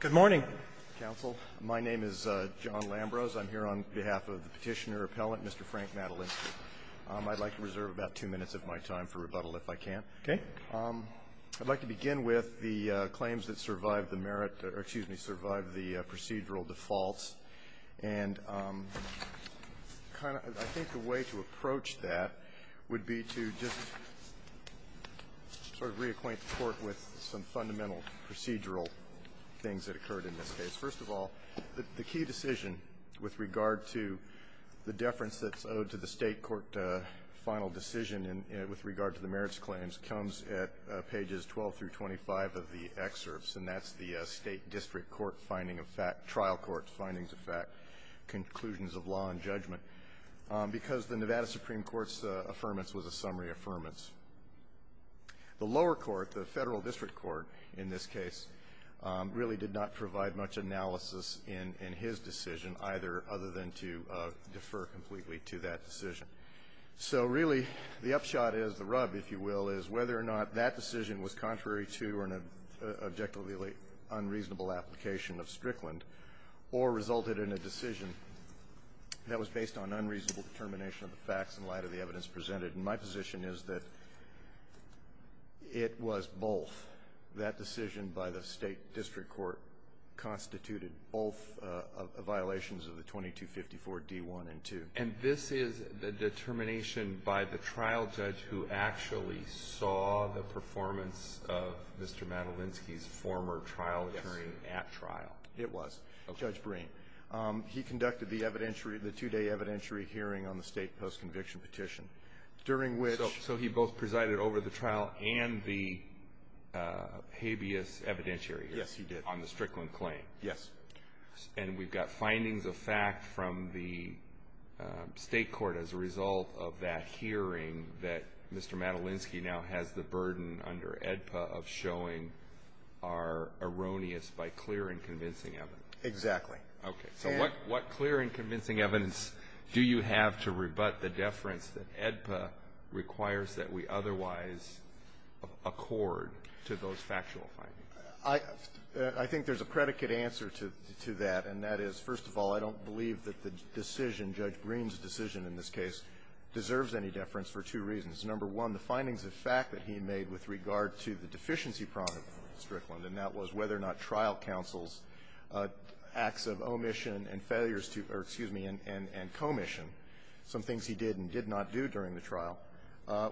Good morning, Counsel. My name is John Lambrose. I'm here on behalf of the Petitioner Appellant, Mr. Frank Matylinsky. I'd like to reserve about two minutes of my time for rebuttal if I can. Okay. I'd like to begin with the claims that survived the merit or, excuse me, survived the procedural defaults. And I think the way to approach that would be to just sort of reacquaint the Court with some fundamental procedural things that occurred in this case. First of all, the key decision with regard to the deference that's owed to the State court final decision with regard to the merits claims comes at pages 12 through 25 of the excerpts. And that's the State district court finding of fact, trial court findings of fact, conclusions of law and judgment, because the Nevada Supreme Court's affirmance was a summary affirmance. The lower court, the Federal district court in this case, really did not provide much analysis in his decision, either other than to defer completely to that decision. So really, the upshot is, the rub, if you will, is whether or not that decision was contrary to or an objectively unreasonable application of Strickland or resulted in a decision that was based on unreasonable determination of the facts in light of the evidence presented. And my position is that it was both. That decision by the State district court constituted both violations of the 2254D1 and 2. And this is the determination by the trial judge who actually saw the performance of Mr. Madelinsky's former trial attorney at trial. Yes. It was. Okay. Judge Breen. He conducted the evidentiary, the two-day evidentiary hearing on the State post-conviction petition, during which So he both presided over the trial and the habeas evidentiary hearing. Yes, he did. On the Strickland claim. Yes. And we've got findings of fact from the State court as a result of that hearing that Mr. Madelinsky now has the burden under AEDPA of showing are erroneous by clear and convincing evidence. Exactly. Okay. So what clear and convincing evidence do you have to rebut the deference that AEDPA requires that we otherwise accord to those factual findings? I think there's a predicate answer to that, and that is, first of all, I don't believe that the decision, Judge Breen's decision in this case, deserves any deference for two reasons. Number one, the findings of fact that he made with regard to the deficiency problem of Strickland, and that was whether or not trial counsel's acts of omission and failures to or, excuse me, and commission, some things he did and did not do during the trial,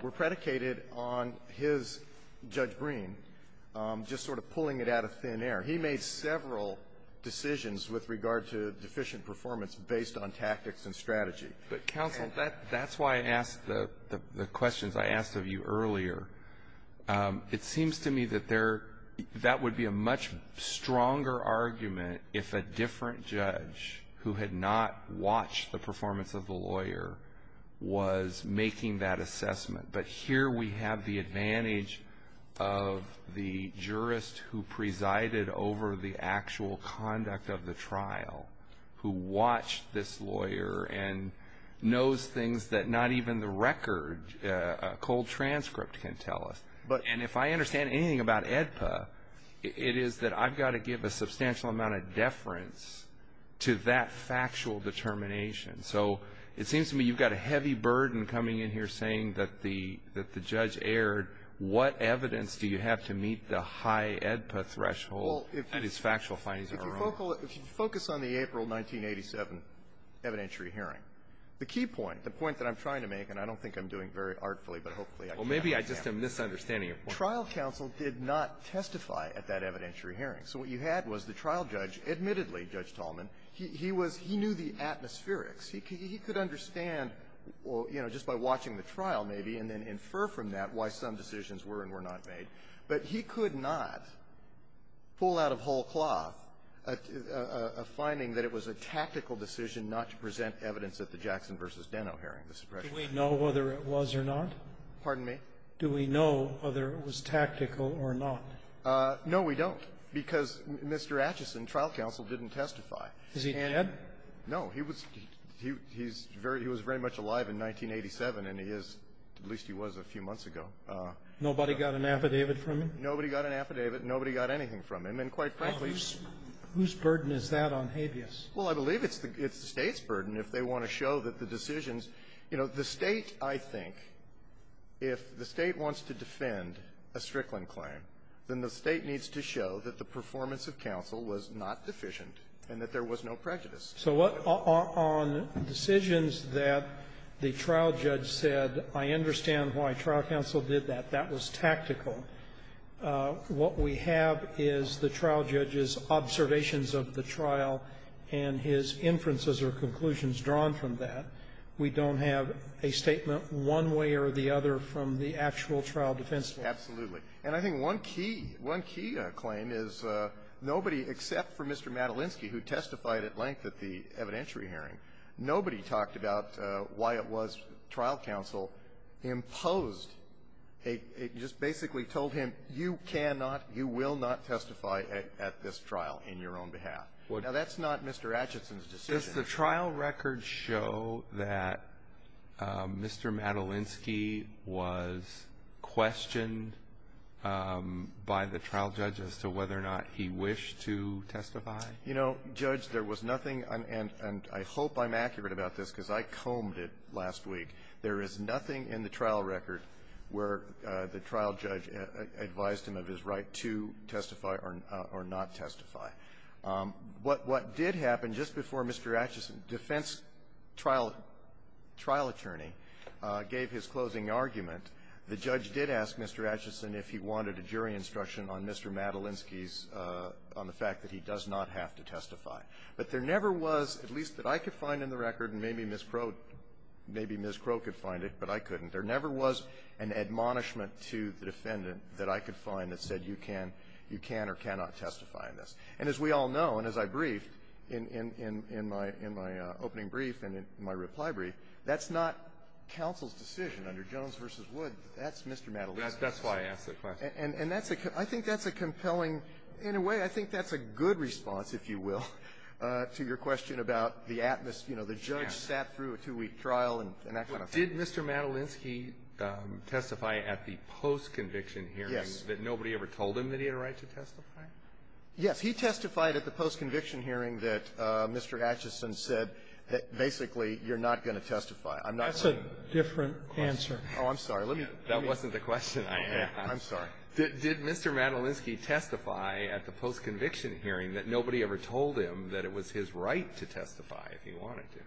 were predicated on his, Judge Breen, just sort of pulling it out of thin air. He made several decisions with regard to deficient performance based on tactics and strategy. But, counsel, that's why I asked the questions I asked of you earlier. It seems to me that there, that would be a much stronger argument if a different judge who had not watched the performance of the lawyer was making that assessment. But here we have the advantage of the jurist who presided over the actual conduct of the trial, who watched this lawyer and knows things that not even the record, a cold transcript can tell us. And if I understand anything about AEDPA, it is that I've got to give a substantial amount of deference to that factual determination. So it seems to me you've got a heavy burden coming in here saying that the judge erred. What evidence do you have to meet the high AEDPA threshold that his factual findings are wrong? If you focus on the April 1987 evidentiary hearing, the key point, the point that I'm doing very artfully, but hopefully I can help you out. Well, maybe I just am misunderstanding it. Trial counsel did not testify at that evidentiary hearing. So what you had was the trial judge, admittedly, Judge Tallman, he was he knew the atmospherics. He could understand, you know, just by watching the trial maybe, and then infer from that why some decisions were and were not made. But he could not pull out of whole cloth a finding that it was a tactical decision not to present evidence at the Jackson v. Deno hearing. Do we know whether it was or not? Pardon me? Do we know whether it was tactical or not? No, we don't, because Mr. Acheson, trial counsel, didn't testify. Is he dead? No. He was very much alive in 1987, and he is, at least he was a few months ago. Nobody got an affidavit from him? Nobody got an affidavit. Nobody got anything from him. And quite frankly he's Whose burden is that on habeas? Well, I believe it's the State's burden if they want to show that the decisions you know, the State, I think, if the State wants to defend a Strickland claim, then the State needs to show that the performance of counsel was not deficient and that there was no prejudice. So what on decisions that the trial judge said, I understand why trial counsel did that. That was tactical. What we have is the trial judge's observations of the trial and his inferences or conclusions drawn from that. We don't have a statement one way or the other from the actual trial defense. Absolutely. And I think one key, one key claim is nobody, except for Mr. Madelinsky, who testified at length at the evidentiary hearing, nobody talked about why it was testified at this trial in your own behalf. Now, that's not Mr. Atchison's decision. Does the trial record show that Mr. Madelinsky was questioned by the trial judge as to whether or not he wished to testify? You know, Judge, there was nothing, and I hope I'm accurate about this because I combed it last week, there is nothing in the trial record where the trial judge advised him of his right to testify or not testify. What did happen just before Mr. Atchison, defense trial attorney, gave his closing argument, the judge did ask Mr. Atchison if he wanted a jury instruction on Mr. Madelinsky's on the fact that he does not have to testify. But there never was, at least that I could find in the record, and maybe Ms. Crow, maybe Ms. Crow could find it, but I couldn't, there never was an admonishment to the defendant that I could find that said you can or cannot testify in this. And as we all know, and as I briefed in my opening brief and in my reply brief, that's not counsel's decision under Jones v. Wood. That's Mr. Madelinsky's decision. That's why I asked that question. And that's a compelling, in a way, I think that's a good response, if you will, to your question about the atmosphere, the judge sat through a two-week trial and that kind of thing. Did Mr. Madelinsky testify at the post-conviction hearing that nobody ever told him that he had a right to testify? Yes. He testified at the post-conviction hearing that Mr. Atchison said that basically you're not going to testify. I'm not going to testify. That's a different answer. Oh, I'm sorry. Let me go. That wasn't the question. I'm sorry. Did Mr. Madelinsky testify at the post-conviction hearing that nobody ever told him that it was his right to testify if he wanted to?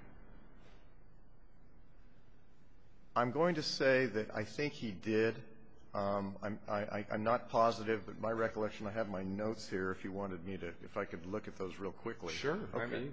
I'm going to say that I think he did. I'm not positive, but my recollection, I have my notes here if you wanted me to, if I could look at those real quickly. Sure. Okay.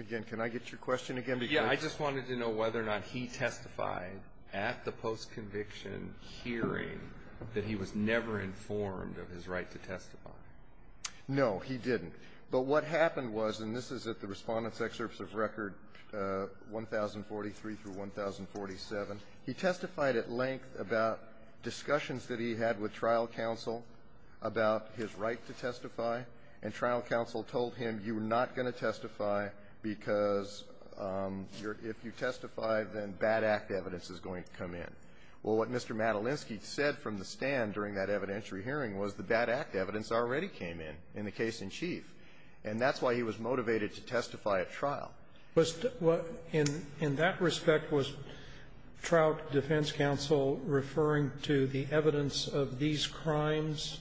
Again, can I get your question again? Yeah, I just wanted to know whether or not he testified at the post-conviction hearing that he was never informed of his right to testify. No, he didn't. But what happened was, and this is at the Respondent's Excerpts of Record 1043 through 1047, he testified at length about discussions that he had with trial counsel about his right to testify, and trial counsel told him you're not going to testify because if you testify, then bad act evidence is going to come in. Well, what Mr. Madelinsky said from the stand during that evidentiary hearing was the bad act evidence already came in, in the case in chief, and that's why he was motivated to testify at trial. Was the what in that respect was trial defense counsel referring to the evidence of these crimes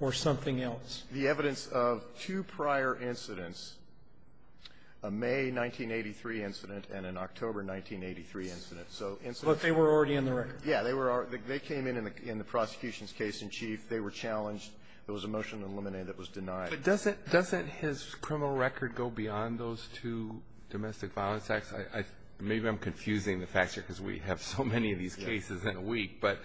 or something else? The evidence of two prior incidents, a May 1983 incident and an October 1983 incident. So incidents were already in the record. Yeah. They were already they came in in the prosecution's case in chief. They were challenged. There was a motion to eliminate that was denied. But doesn't his criminal record go beyond those two domestic violence acts? Maybe I'm confusing the facts here because we have so many of these cases in a week, but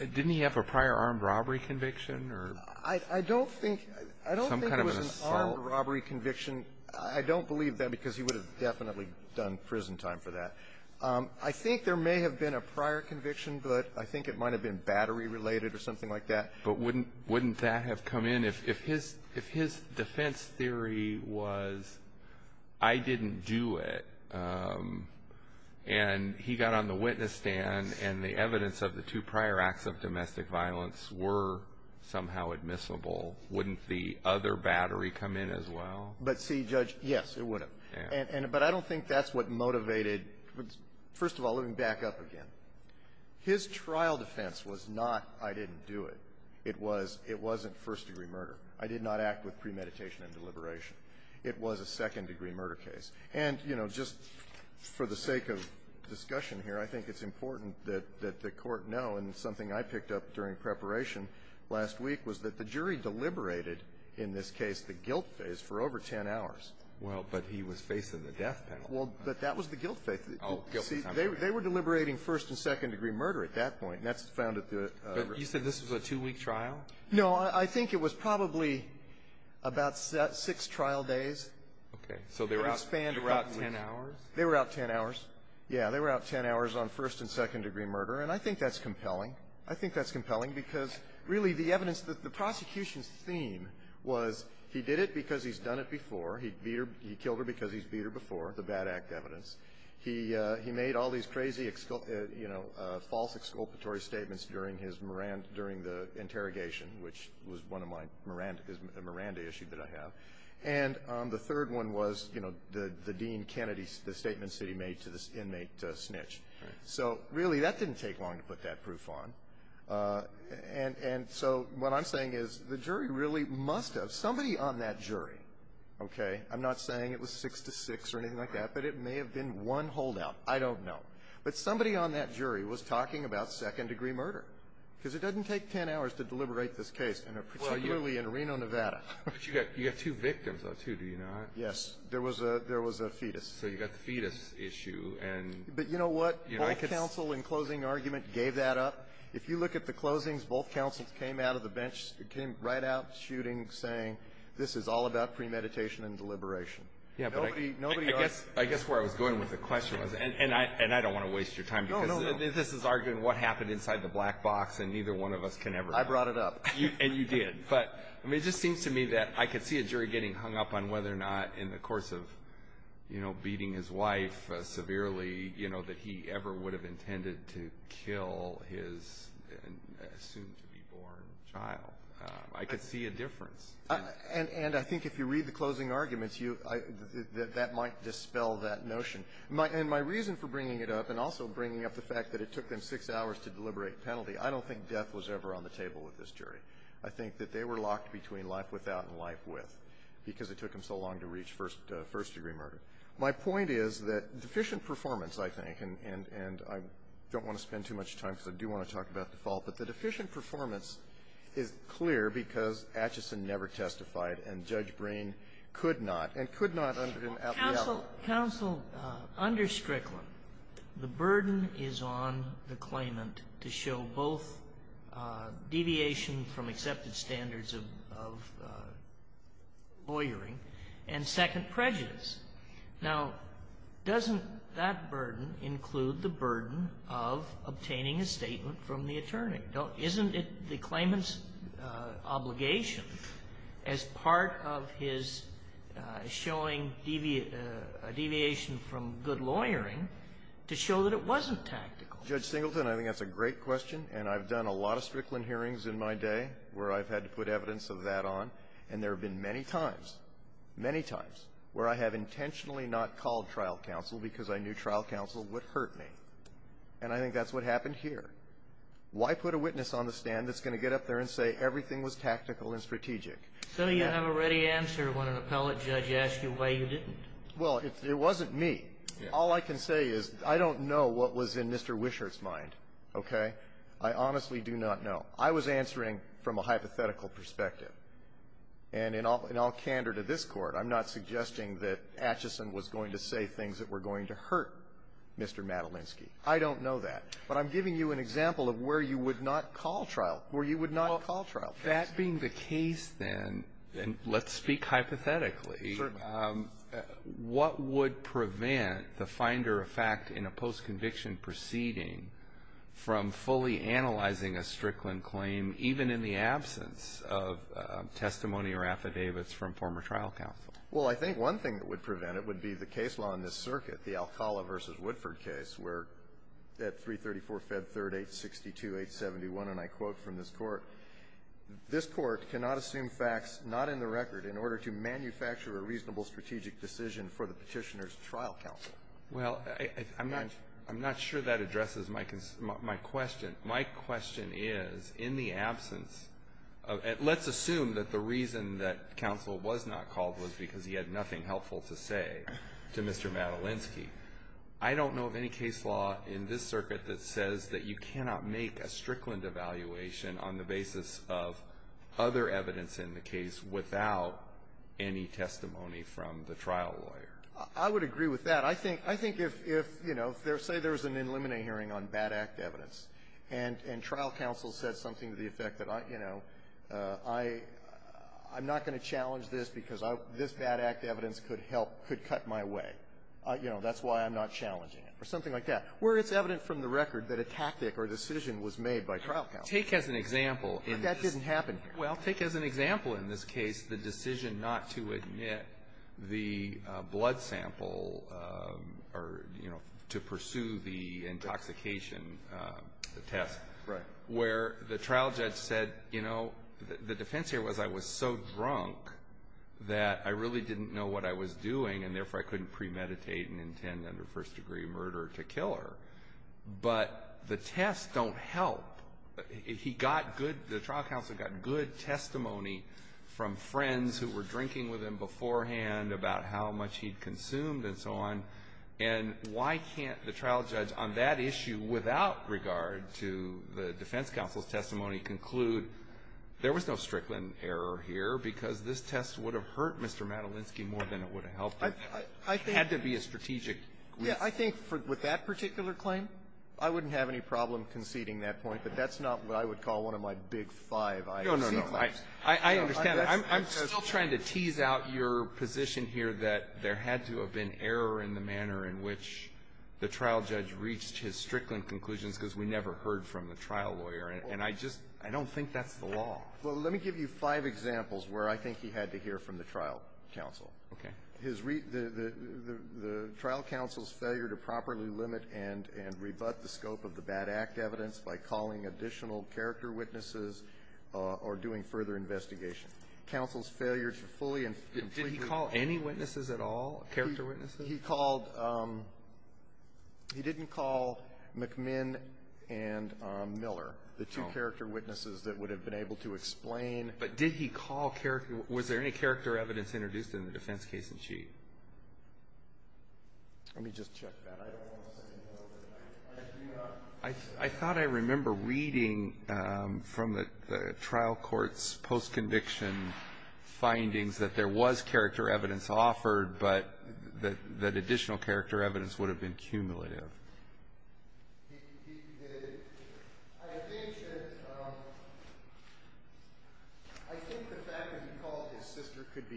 didn't he have a prior armed robbery conviction or some kind of an assault? I don't think it was an armed robbery conviction. I don't believe that because he would have definitely done prison time for that. I think there may have been a prior conviction, but I think it might have been battery related or something like that. But wouldn't that have come in if his defense theory was I didn't do it, and he got on the witness stand and the evidence of the two prior acts of domestic violence were somehow admissible, wouldn't the other battery come in as well? But see, Judge, yes, it would have. But I don't think that's what motivated. First of all, let me back up again. His trial defense was not I didn't do it. It wasn't first-degree murder. I did not act with premeditation and deliberation. It was a second-degree murder case. And, you know, just for the sake of discussion here, I think it's important that the Court know, and it's something I picked up during preparation last week, was that the jury deliberated in this case the guilt phase for over 10 hours. Well, but he was facing the death penalty. Well, but that was the guilt phase. Oh, guilt. See, they were deliberating first- and second-degree murder at that point, and that's found at the region. But you said this was a two-week trial? I think it was probably about six trial days. Okay. So they were out 10 hours? They were out 10 hours. Yeah. They were out 10 hours on first- and second-degree murder. And I think that's compelling. I think that's compelling because, really, the evidence that the prosecution's theme was he did it because he's done it before. He beat her. He killed her because he's beat her before, the bad act evidence. He made all these crazy, you know, false exculpatory statements during his Miranda -- during the interrogation, which was one of my Miranda issues that I have. And the third one was, you know, the Dean Kennedy's statement that he made to this inmate, Snitch. So, really, that didn't take long to put that proof on. And so what I'm saying is the jury really must have, somebody on that jury, okay? I'm not saying it was six to six or anything like that, but it may have been one holdout. I don't know. But somebody on that jury was talking about second-degree murder because it doesn't take 10 hours to deliberate this case in a particular way in Reno, Nevada. But you've got two victims, though, too, do you not? Yes. There was a fetus. So you've got the fetus issue. But you know what? Both counsel in closing argument gave that up. If you look at the closings, both counsels came out of the bench, came right out shooting, saying, this is all about premeditation and deliberation. Yeah, but I guess where I was going with the question was, and I don't want to waste your time because this is arguing what happened inside the black box, and neither one of us can ever know. I brought it up. And you did. But I mean, it just seems to me that I could see a jury getting hung up on whether or not in the course of, you know, beating his wife severely, you know, that he ever would have intended to kill his soon-to-be-born child. I could see a difference. And I think if you read the closing arguments, that might dispel that notion. And my reason for bringing it up and also bringing up the fact that it took them six hours to deliberate penalty, I don't think death was ever on the table with this case, but they were locked between life without and life with because it took them so long to reach first-degree murder. My point is that deficient performance, I think, and I don't want to spend too much time because I do want to talk about default, but the deficient performance is clear because Acheson never testified and Judge Breen could not, and could not at the level. Sotomayor, counsel, under Strickland, the burden is on the claimant to show both deviation from accepted standards of lawyering and second prejudice. Now, doesn't that burden include the burden of obtaining a statement from the attorney? Isn't it the claimant's obligation as part of his showing deviation from good lawyering to show that it wasn't tactical? Well, Judge Singleton, I think that's a great question, and I've done a lot of Strickland hearings in my day where I've had to put evidence of that on, and there have been many times, many times, where I have intentionally not called trial counsel because I knew trial counsel would hurt me. And I think that's what happened here. Why put a witness on the stand that's going to get up there and say everything was tactical and strategic? So you have a ready answer when an appellate judge asks you why you didn't. Well, it wasn't me. All I can say is I don't know what was in Mr. Wishart's mind, okay? I honestly do not know. I was answering from a hypothetical perspective. And in all candor to this Court, I'm not suggesting that Acheson was going to say things that were going to hurt Mr. Madelinsky. I don't know that. But I'm giving you an example of where you would not call trial, where you would not call trial counsel. If that being the case, then, and let's speak hypothetically, what would prevent the finder of fact in a post-conviction proceeding from fully analyzing a Strickland claim, even in the absence of testimony or affidavits from former trial counsel? Well, I think one thing that would prevent it would be the case law in this circuit, the Alcala v. Woodford case, where at 334-Fed-3, 862-871, and I quote from this Court, this Court cannot assume facts not in the record in order to manufacture a reasonable strategic decision for the Petitioner's trial counsel. Well, I'm not sure that addresses my question. My question is, in the absence of, let's assume that the reason that counsel was not called was because he had nothing helpful to say to Mr. Madelinsky. I don't know of any case law in this circuit that says that you cannot make a Strickland evaluation on the basis of other evidence in the case without any testimony from the trial lawyer. I would agree with that. I think, I think if, you know, say there was an in limine hearing on bad act evidence, and trial counsel said something to the effect that, you know, I'm not going to challenge this because this bad act evidence could help, could cut my way. You know, that's why I'm not challenging it, or something like that. Where it's evident from the record that a tactic or decision was made by trial counsel. Take as an example. And that didn't happen here. Well, take as an example in this case the decision not to admit the blood sample or, you know, to pursue the intoxication test. Right. Where the trial judge said, you know, the defense here was I was so drunk that I really didn't know what I was doing, and therefore I couldn't premeditate and intend a first-degree murder to kill her. But the tests don't help. He got good the trial counsel got good testimony from friends who were drinking with him beforehand about how much he'd consumed and so on. And why can't the trial judge on that issue without regard to the defense counsel's testimony conclude there was no Strickland error here because this test would have hurt Mr. Madelinsky more than it would have helped him. It had to be a strategic reason. Yeah. I think with that particular claim, I wouldn't have any problem conceding that point, but that's not what I would call one of my big five I concede claims. No, no, no. I understand. I'm still trying to tease out your position here that there had to have been error in the manner in which the trial judge reached his Strickland conclusions because we never heard from the trial lawyer, and I just don't think that's the law. Well, let me give you five examples where I think he had to hear from the trial counsel. Okay. The trial counsel's failure to properly limit and rebut the scope of the bad act evidence by calling additional character witnesses or doing further investigation. Counsel's failure to fully and completely ---- Did he call any witnesses at all, character witnesses? He called he didn't call McMinn and Miller, the two character witnesses that would have been able to explain. But did he call ---- was there any character evidence introduced in the defense case in Chief? Let me just check that. I don't want to say no. I thought I remember reading from the trial court's post-conviction findings that there was character evidence offered, but that additional character evidence would have been cumulative. He did. I think that the fact that he called his sister could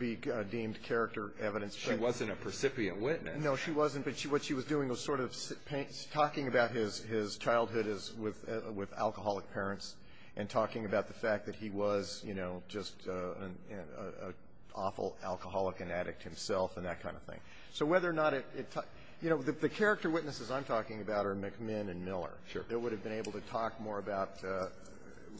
be deemed character evidence. She wasn't a precipient witness. No, she wasn't. But what she was doing was sort of talking about his childhood with alcoholic parents and talking about the fact that he was, you know, just an awful alcoholic and addict himself and that kind of thing. So whether or not it ---- you know, the character witnesses I'm talking about are McMinn and Miller. Sure. They would have been able to talk more about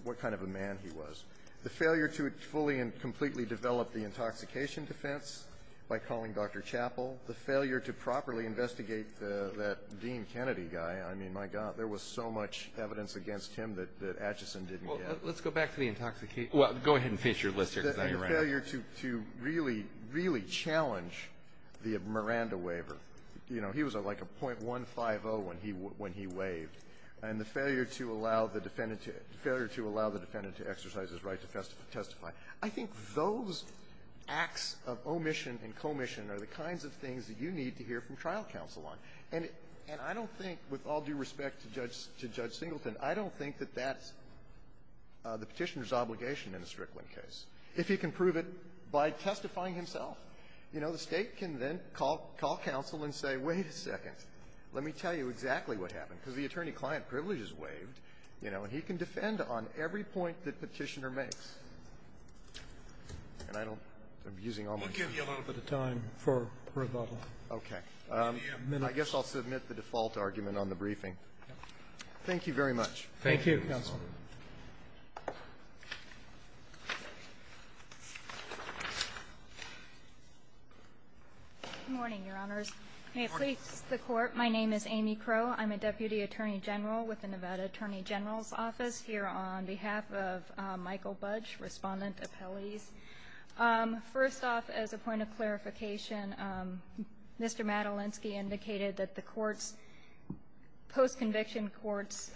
what kind of a man he was. The failure to fully and completely develop the intoxication defense by calling Dr. Chappell. The failure to properly investigate that Dean Kennedy guy. I mean, my God, there was so much evidence against him that Acheson didn't get. Well, let's go back to the intoxication ---- Well, go ahead and finish your list here, because then you're right. The failure to really, really challenge the Miranda waiver. You know, he was at like a .150 when he waived. And the failure to allow the defendant to exercise his right to testify. I think those acts of omission and commission are the kinds of things that you need to hear from trial counsel on. And I don't think, with all due respect to Judge Singleton, I don't think that that's the Petitioner's obligation in a Strickland case. If he can prove it by testifying himself. You know, the State can then call counsel and say, wait a second. Let me tell you exactly what happened. Because the attorney-client privilege is waived. You know, he can defend on every point that Petitioner makes. And I don't ---- We'll give you a little bit of time for rebuttal. Okay. I guess I'll submit the default argument on the briefing. Thank you very much. Thank you, counsel. Good morning, Your Honors. Good morning. May it please the Court. My name is Amy Crowe. I'm a Deputy Attorney General with the Nevada Attorney General's Office here on behalf of Michael Budge, Respondent, Appellees. First off, as a point of clarification, Mr. Madelinsky indicated that the Court's post-conviction court's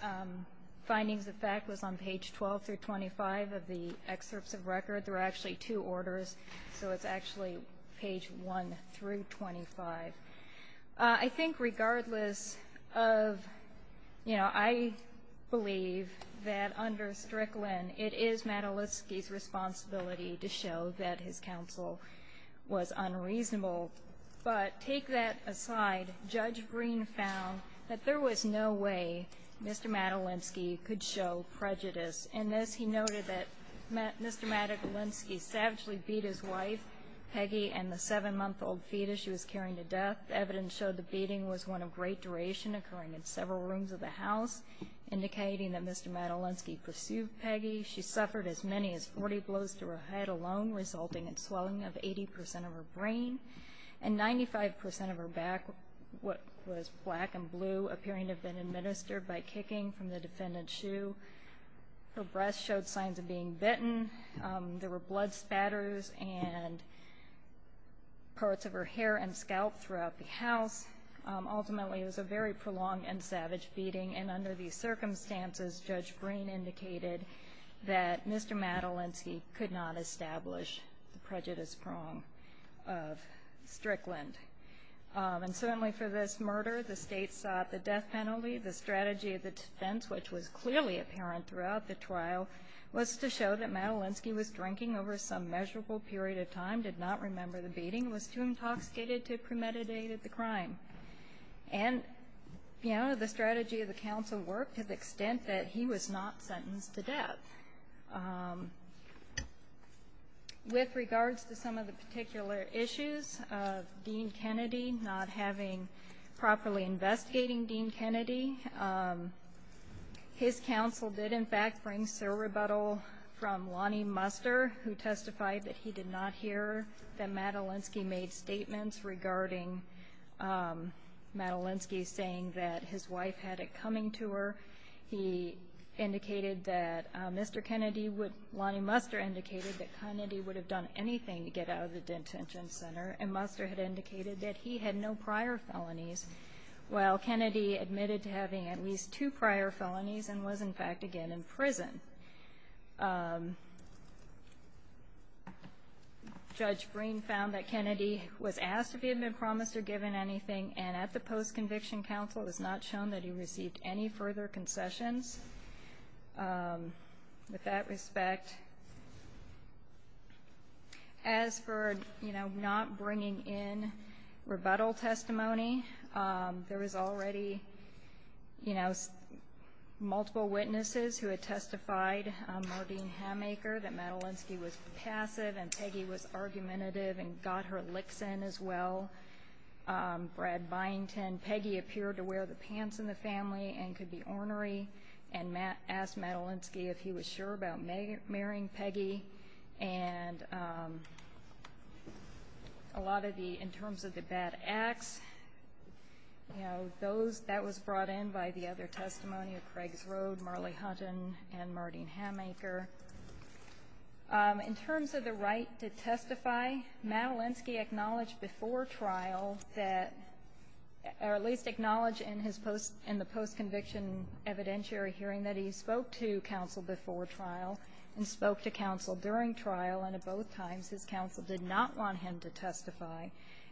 findings of fact was on page 12 through 25 of the excerpts of record. There are actually two orders, so it's actually page 1 through 25. I think regardless of, you know, I believe that under Strickland, it is Madelinsky's responsibility to show that his counsel was unreasonable. But take that aside. Judge Green found that there was no way Mr. Madelinsky could show prejudice. In this, he noted that Mr. Madelinsky savagely beat his wife, Peggy, and the 7-month-old fetus she was carrying to death. Evidence showed the beating was one of great duration, occurring in several rooms of the house, indicating that Mr. Madelinsky pursued Peggy. She suffered as many as 40 blows to her head alone, resulting in swelling of 80 percent of her brain, and 95 percent of her back, what was black and blue, appearing to have been administered by kicking from the defendant's shoe. Her breast showed signs of being bitten. There were blood spatters and parts of her hair and scalp throughout the house. Ultimately, it was a very prolonged and savage beating, and under these circumstances, Judge Green indicated that Mr. Madelinsky could not establish the prejudice prong of Strickland. And certainly for this murder, the State sought the death penalty. The strategy of the defense, which was clearly apparent throughout the trial, was to show that Madelinsky was drinking over some measurable period of time, did not remember the beating, was too intoxicated to have premeditated the crime. And, you know, the strategy of the counsel worked to the extent that he was not sentenced to death. With regards to some of the particular issues of Dean Kennedy not having properly investigating Dean Kennedy, his counsel did, in fact, bring several rebuttal from Lonnie Muster, who testified that he did not hear that Madelinsky made statements regarding Madelinsky saying that his wife had it coming to her. He indicated that Mr. Kennedy would – Lonnie Muster indicated that Kennedy would have done anything to get out of the detention center, and Muster had indicated that he had no prior felonies, while Kennedy admitted to having at least two prior felonies and was, in fact, again in prison. Judge Breen found that Kennedy was asked if he had been promised or given anything, and at the post-conviction counsel, it was not shown that he received any further concessions. With that respect, as for, you know, not bringing in rebuttal testimony, there was already, you know, multiple witnesses who had testified, Mardeen Hamaker, that Madelinsky was passive and Peggy was argumentative and got her licks in as well. Brad Byington, Peggy appeared to wear the pants in the family and could be ornery, and asked Madelinsky if he was sure about marrying Peggy. And a lot of the – in terms of the bad acts, you know, those – that was brought in by the other testimony of Craigs Road, Marlee Hunton, and Mardeen Hamaker. In terms of the right to testify, Madelinsky acknowledged before trial that – or at least acknowledged in his post – in the post-conviction evidentiary hearing that he spoke to counsel before trial and spoke to counsel during trial, and at both times, his counsel did not want him to testify.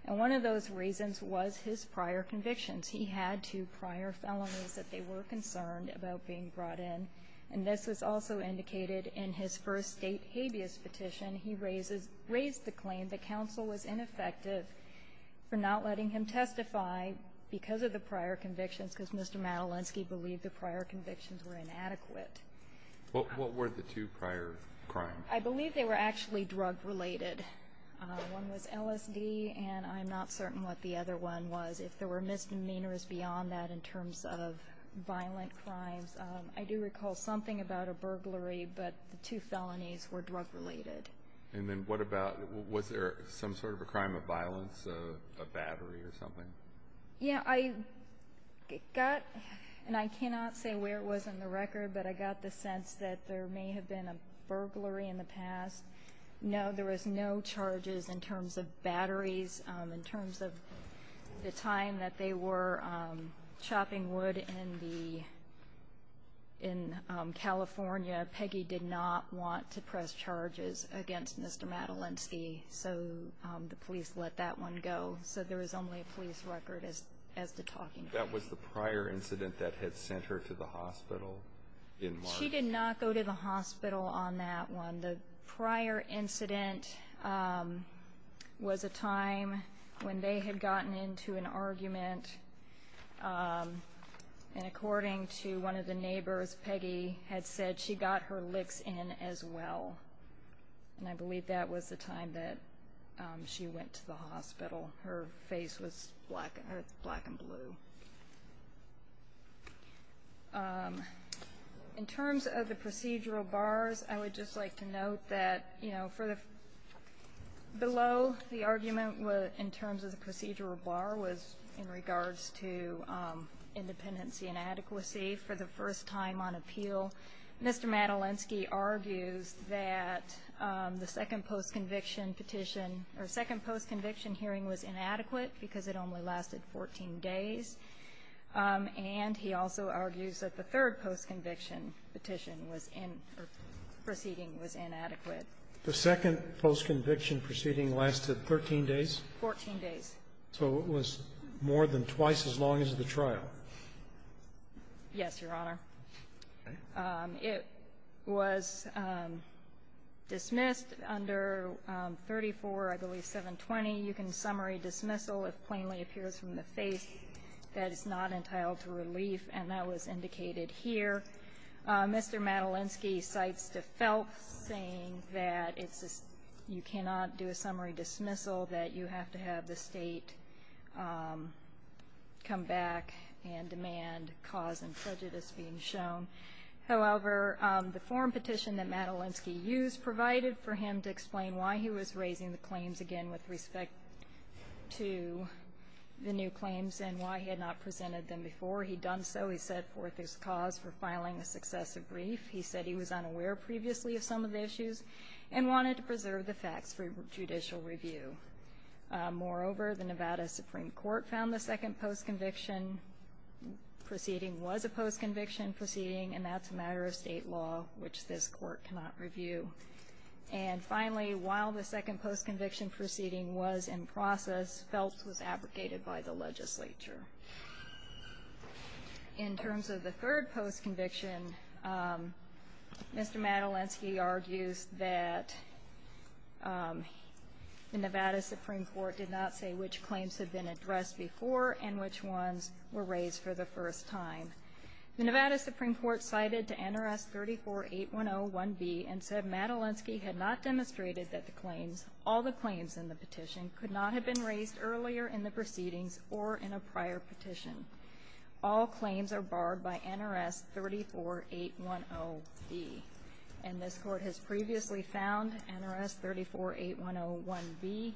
And one of those reasons was his prior convictions. He had two prior felonies that they were concerned about being brought in. And this was also indicated in his first State habeas petition. He raises – raised the claim that counsel was ineffective for not letting him testify because of the prior convictions, because Mr. Madelinsky believed the prior convictions were inadequate. What were the two prior crimes? I believe they were actually drug-related. One was LSD, and I'm not certain what the other one was. If there were misdemeanors beyond that in terms of violent crimes, I do recall something about a burglary, but the two felonies were drug-related. And then what about – was there some sort of a crime of violence, a battery or something? Yeah, I got – and I cannot say where it was on the record, but I got the sense that there may have been a burglary in the past. No, there was no charges in terms of batteries. In terms of the time that they were chopping wood in the – in California, Peggy did not want to press charges against Mr. Madelinsky, so the police let that one go. So there is only a police record as to talking about it. That was the prior incident that had sent her to the hospital in March? She did not go to the hospital on that one. The prior incident was a time when they had gotten into an argument, and according to one of the neighbors, Peggy had said she got her licks in as well. And I believe that was the time that she went to the hospital. Her face was black and blue. In terms of the procedural bars, I would just like to note that below the argument in terms of the procedural bar was in regards to independency and adequacy. on appeal, Mr. Madelinsky argues that the second post-conviction petition or second post-conviction hearing was inadequate because it only lasted 14 days. And he also argues that the third post-conviction petition was in – or proceeding was inadequate. The second post-conviction proceeding lasted 13 days? Fourteen days. So it was more than twice as long as the trial? Yes, Your Honor. Okay. It was dismissed under 34, I believe, 720. You can summary dismissal if plainly appears from the face. That is not entitled to relief, and that was indicated here. Mr. Madelinsky cites De Feltz saying that you cannot do a summary dismissal, that you have to have the state come back and demand cause and prejudice being shown. However, the forum petition that Madelinsky used provided for him to explain why he was raising the claims again with respect to the new claims and why he had not presented them before. He'd done so. He set forth his cause for filing a successive brief. He said he was unaware previously of some of the issues and wanted to preserve the facts for judicial review. Moreover, the Nevada Supreme Court found the second post-conviction proceeding was a post-conviction proceeding, and that's a matter of state law, which this Court cannot review. And finally, while the second post-conviction proceeding was in process, Feltz was abrogated by the legislature. In terms of the third post-conviction, Mr. Madelinsky argues that the Nevada Supreme Court did not say which claims had been addressed before and which ones were raised for the first time. The Nevada Supreme Court cited to NRS 34-8101B and said Madelinsky had not demonstrated that all the claims in the petition could not have been raised earlier in the proceedings or in a prior petition. All claims are barred by NRS 34-810B. And this Court has previously found NRS 34-8101B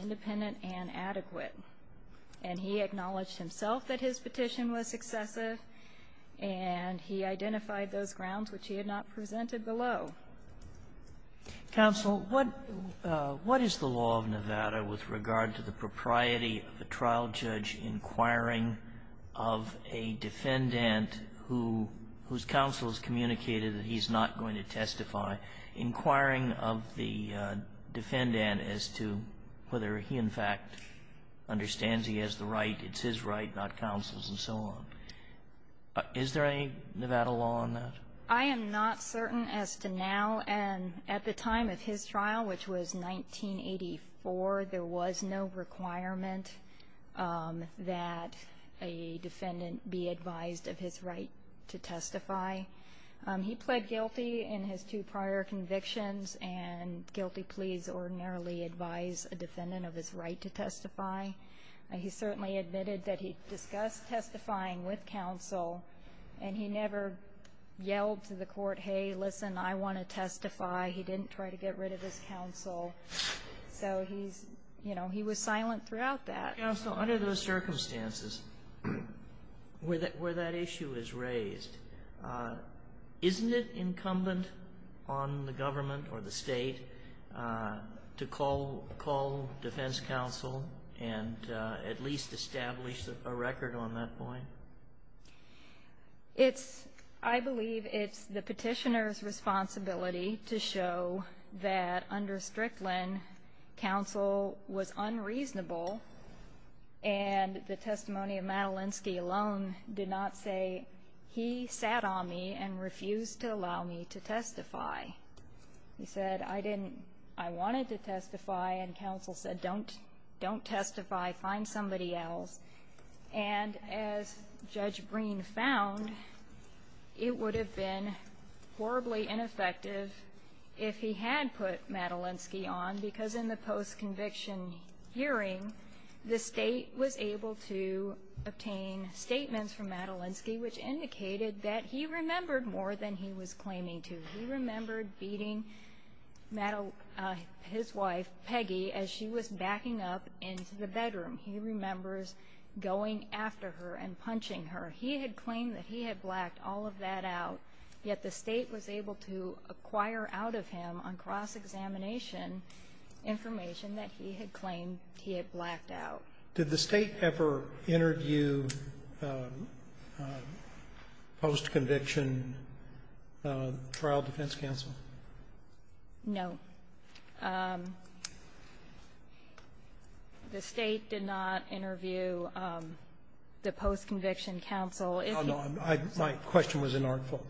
independent and adequate. And he acknowledged himself that his petition was successive, and he identified those grounds which he had not presented below. Sotomayor, what is the law of Nevada with regard to the propriety of a trial judge inquiring of a defendant whose counsel has communicated that he's not going to testify, inquiring of the defendant as to whether he, in fact, understands he has the right, it's his right, not counsel's, and so on? Is there any Nevada law on that? I am not certain as to now. And at the time of his trial, which was 1984, there was no requirement that a defendant be advised of his right to testify. He pled guilty in his two prior convictions and guilty pleas ordinarily advise a defendant of his right to testify. He certainly admitted that he discussed testifying with counsel, and he never yelled to the court, hey, listen, I want to testify. He didn't try to get rid of his counsel. So he's, you know, he was silent throughout that. Counsel, under those circumstances where that issue is raised, isn't it incumbent on the government or the state to call defense counsel and at least establish a record on that point? I believe it's the petitioner's responsibility to show that under Strickland, counsel was unreasonable, and the testimony of Madelinsky alone did not say, he sat on me and refused to allow me to testify. He said, I didn't, I wanted to testify, and counsel said don't testify, find somebody else. And as Judge Breen found, it would have been horribly ineffective if he had put Madelinsky on, because in the post-conviction hearing, the state was able to obtain statements from Madelinsky, which indicated that he remembered more than he was claiming to. He remembered beating his wife, Peggy, as she was backing up into the bedroom. He remembers going after her and punching her. He had claimed that he had blacked all of that out, yet the state was able to acquire out of him on cross-examination information that he had claimed he had blacked out. Did the State ever interview post-conviction trial defense counsel? No. The State did not interview the post-conviction counsel. Oh, no. My question was inartful.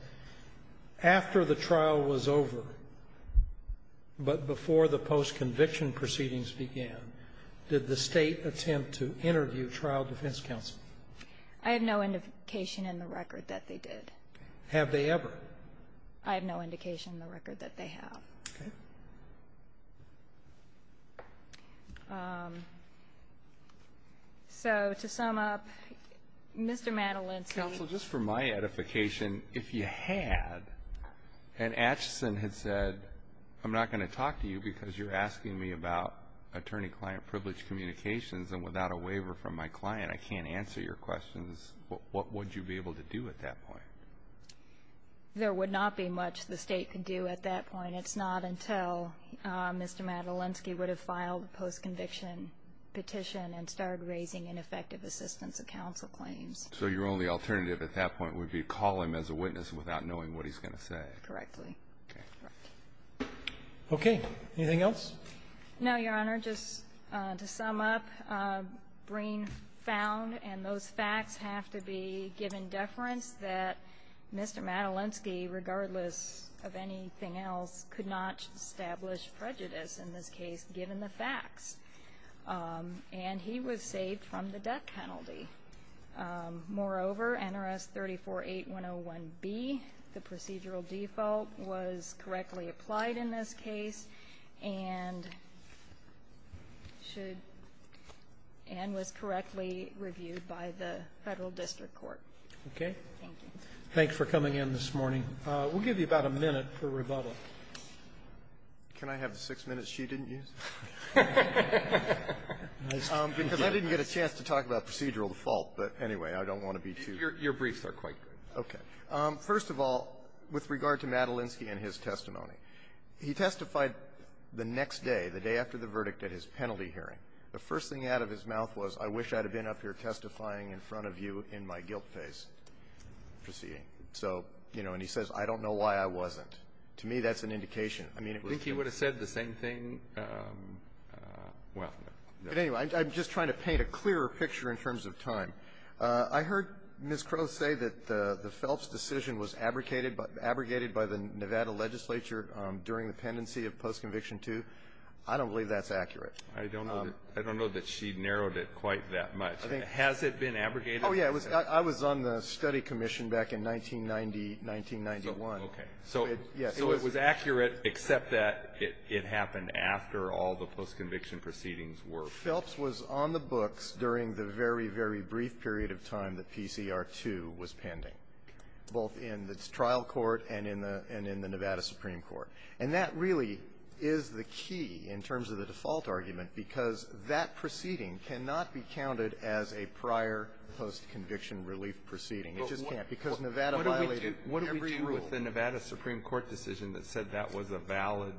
After the trial was over, but before the post-conviction proceedings began, did the State attempt to interview trial defense counsel? I have no indication in the record that they did. Have they ever? I have no indication in the record that they have. Okay. So to sum up, Mr. Madelinsky was going to be the judge. Counsel, just for my edification, if you had, and Acheson had said I'm not going to talk to you because you're asking me about attorney-client privilege communications and without a waiver from my client I can't answer your questions, what would you be able to do at that point? There would not be much the State could do at that point. It's not until Mr. Madelinsky would have filed a post-conviction petition and started raising ineffective assistance of counsel claims. So your only alternative at that point would be to call him as a witness without knowing what he's going to say. Correctly. Okay. Anything else? No, Your Honor. Just to sum up, Breen found, and those facts have to be given deference, that Mr. Madelinsky, regardless of anything else, could not establish prejudice in this case given the facts. And he was saved from the death penalty. Moreover, NRS 348101B, the procedural default, was correctly applied in this case and was correctly reviewed by the Federal District Court. Okay. Thank you. Thanks for coming in this morning. We'll give you about a minute for rebuttal. Can I have the six minutes she didn't use? Because I didn't get a chance to talk about procedural default. But, anyway, I don't want to be too ---- Your briefs are quite good. Okay. First of all, with regard to Madelinsky and his testimony, he testified the next day, the day after the verdict at his penalty hearing. The first thing out of his mouth was, I wish I'd have been up here testifying in front of you in my guilt phase proceeding. So, you know, and he says, I don't know why I wasn't. To me, that's an indication. I mean, I think he would have said the same thing. Well, no. But, anyway, I'm just trying to paint a clearer picture in terms of time. I heard Ms. Crowe say that the Phelps decision was abrogated by the Nevada legislature during the pendency of post-conviction 2. I don't believe that's accurate. I don't know that she narrowed it quite that much. Has it been abrogated? Oh, yeah. I was on the study commission back in 1990, 1991. Okay. So it was accurate, except that it happened after all the post-conviction proceedings were finished. Phelps was on the books during the very, very brief period of time that PCR 2 was pending, both in the trial court and in the Nevada Supreme Court. And that really is the key in terms of the default argument, because that proceeding cannot be counted as a prior post-conviction relief proceeding. It just can't. Because Nevada violated every rule. It's not the Nevada Supreme Court decision that said that was a valid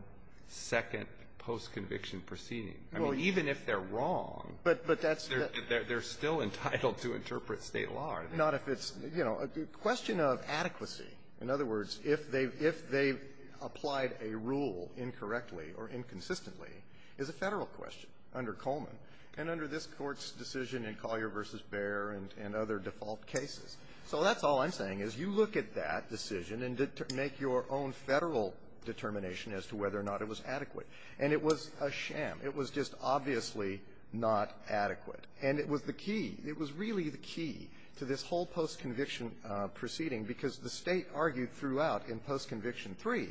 second post-conviction proceeding. I mean, even if they're wrong, they're still entitled to interpret State law. Not if it's, you know, a question of adequacy. In other words, if they've applied a rule incorrectly or inconsistently is a Federal question under Coleman and under this Court's decision in Collier v. Baer and other default cases. So that's all I'm saying, is you look at that decision and make your own Federal determination as to whether or not it was adequate. And it was a sham. It was just obviously not adequate. And it was the key. It was really the key to this whole post-conviction proceeding, because the State argued throughout in post-conviction 3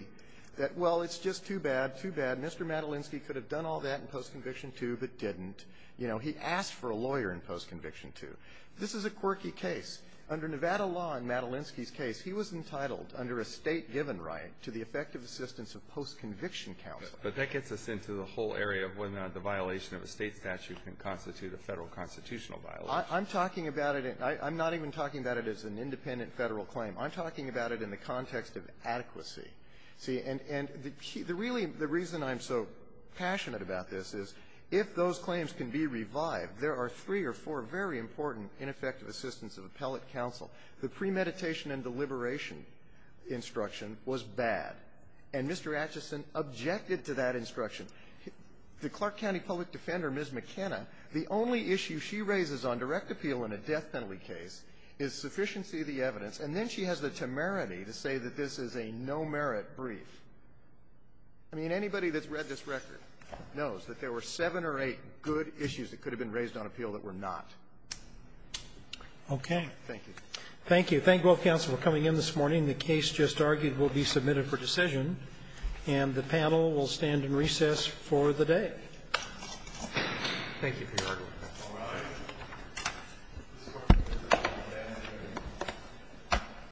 that, well, it's just too bad, too bad. Mr. Madelinsky could have done all that in post-conviction 2 but didn't. You know, he asked for a lawyer in post-conviction 2. This is a quirky case. Under Nevada law in Madelinsky's case, he was entitled under a State-given right to the effective assistance of post-conviction counsel. But that gets us into the whole area of whether or not the violation of a State statute can constitute a Federal constitutional violation. I'm talking about it. I'm not even talking about it as an independent Federal claim. I'm talking about it in the context of adequacy. See, and the key to really the reason I'm so passionate about this is if those claims can be revived, there are three or four very important ineffective assistance of appellate counsel. The premeditation and deliberation instruction was bad. And Mr. Acheson objected to that instruction. The Clark County public defender, Ms. McKenna, the only issue she raises on direct appeal in a death penalty case is sufficiency of the evidence, and then she has the temerity to say that this is a no-merit brief. I mean, anybody that's read this record knows that there were seven or eight good issues that could have been raised on appeal that were not. Thank you. Roberts. Thank you. Thank both counsel for coming in this morning. The case just argued will be submitted for decision, and the panel will stand in recess for the day. Thank you, Peter.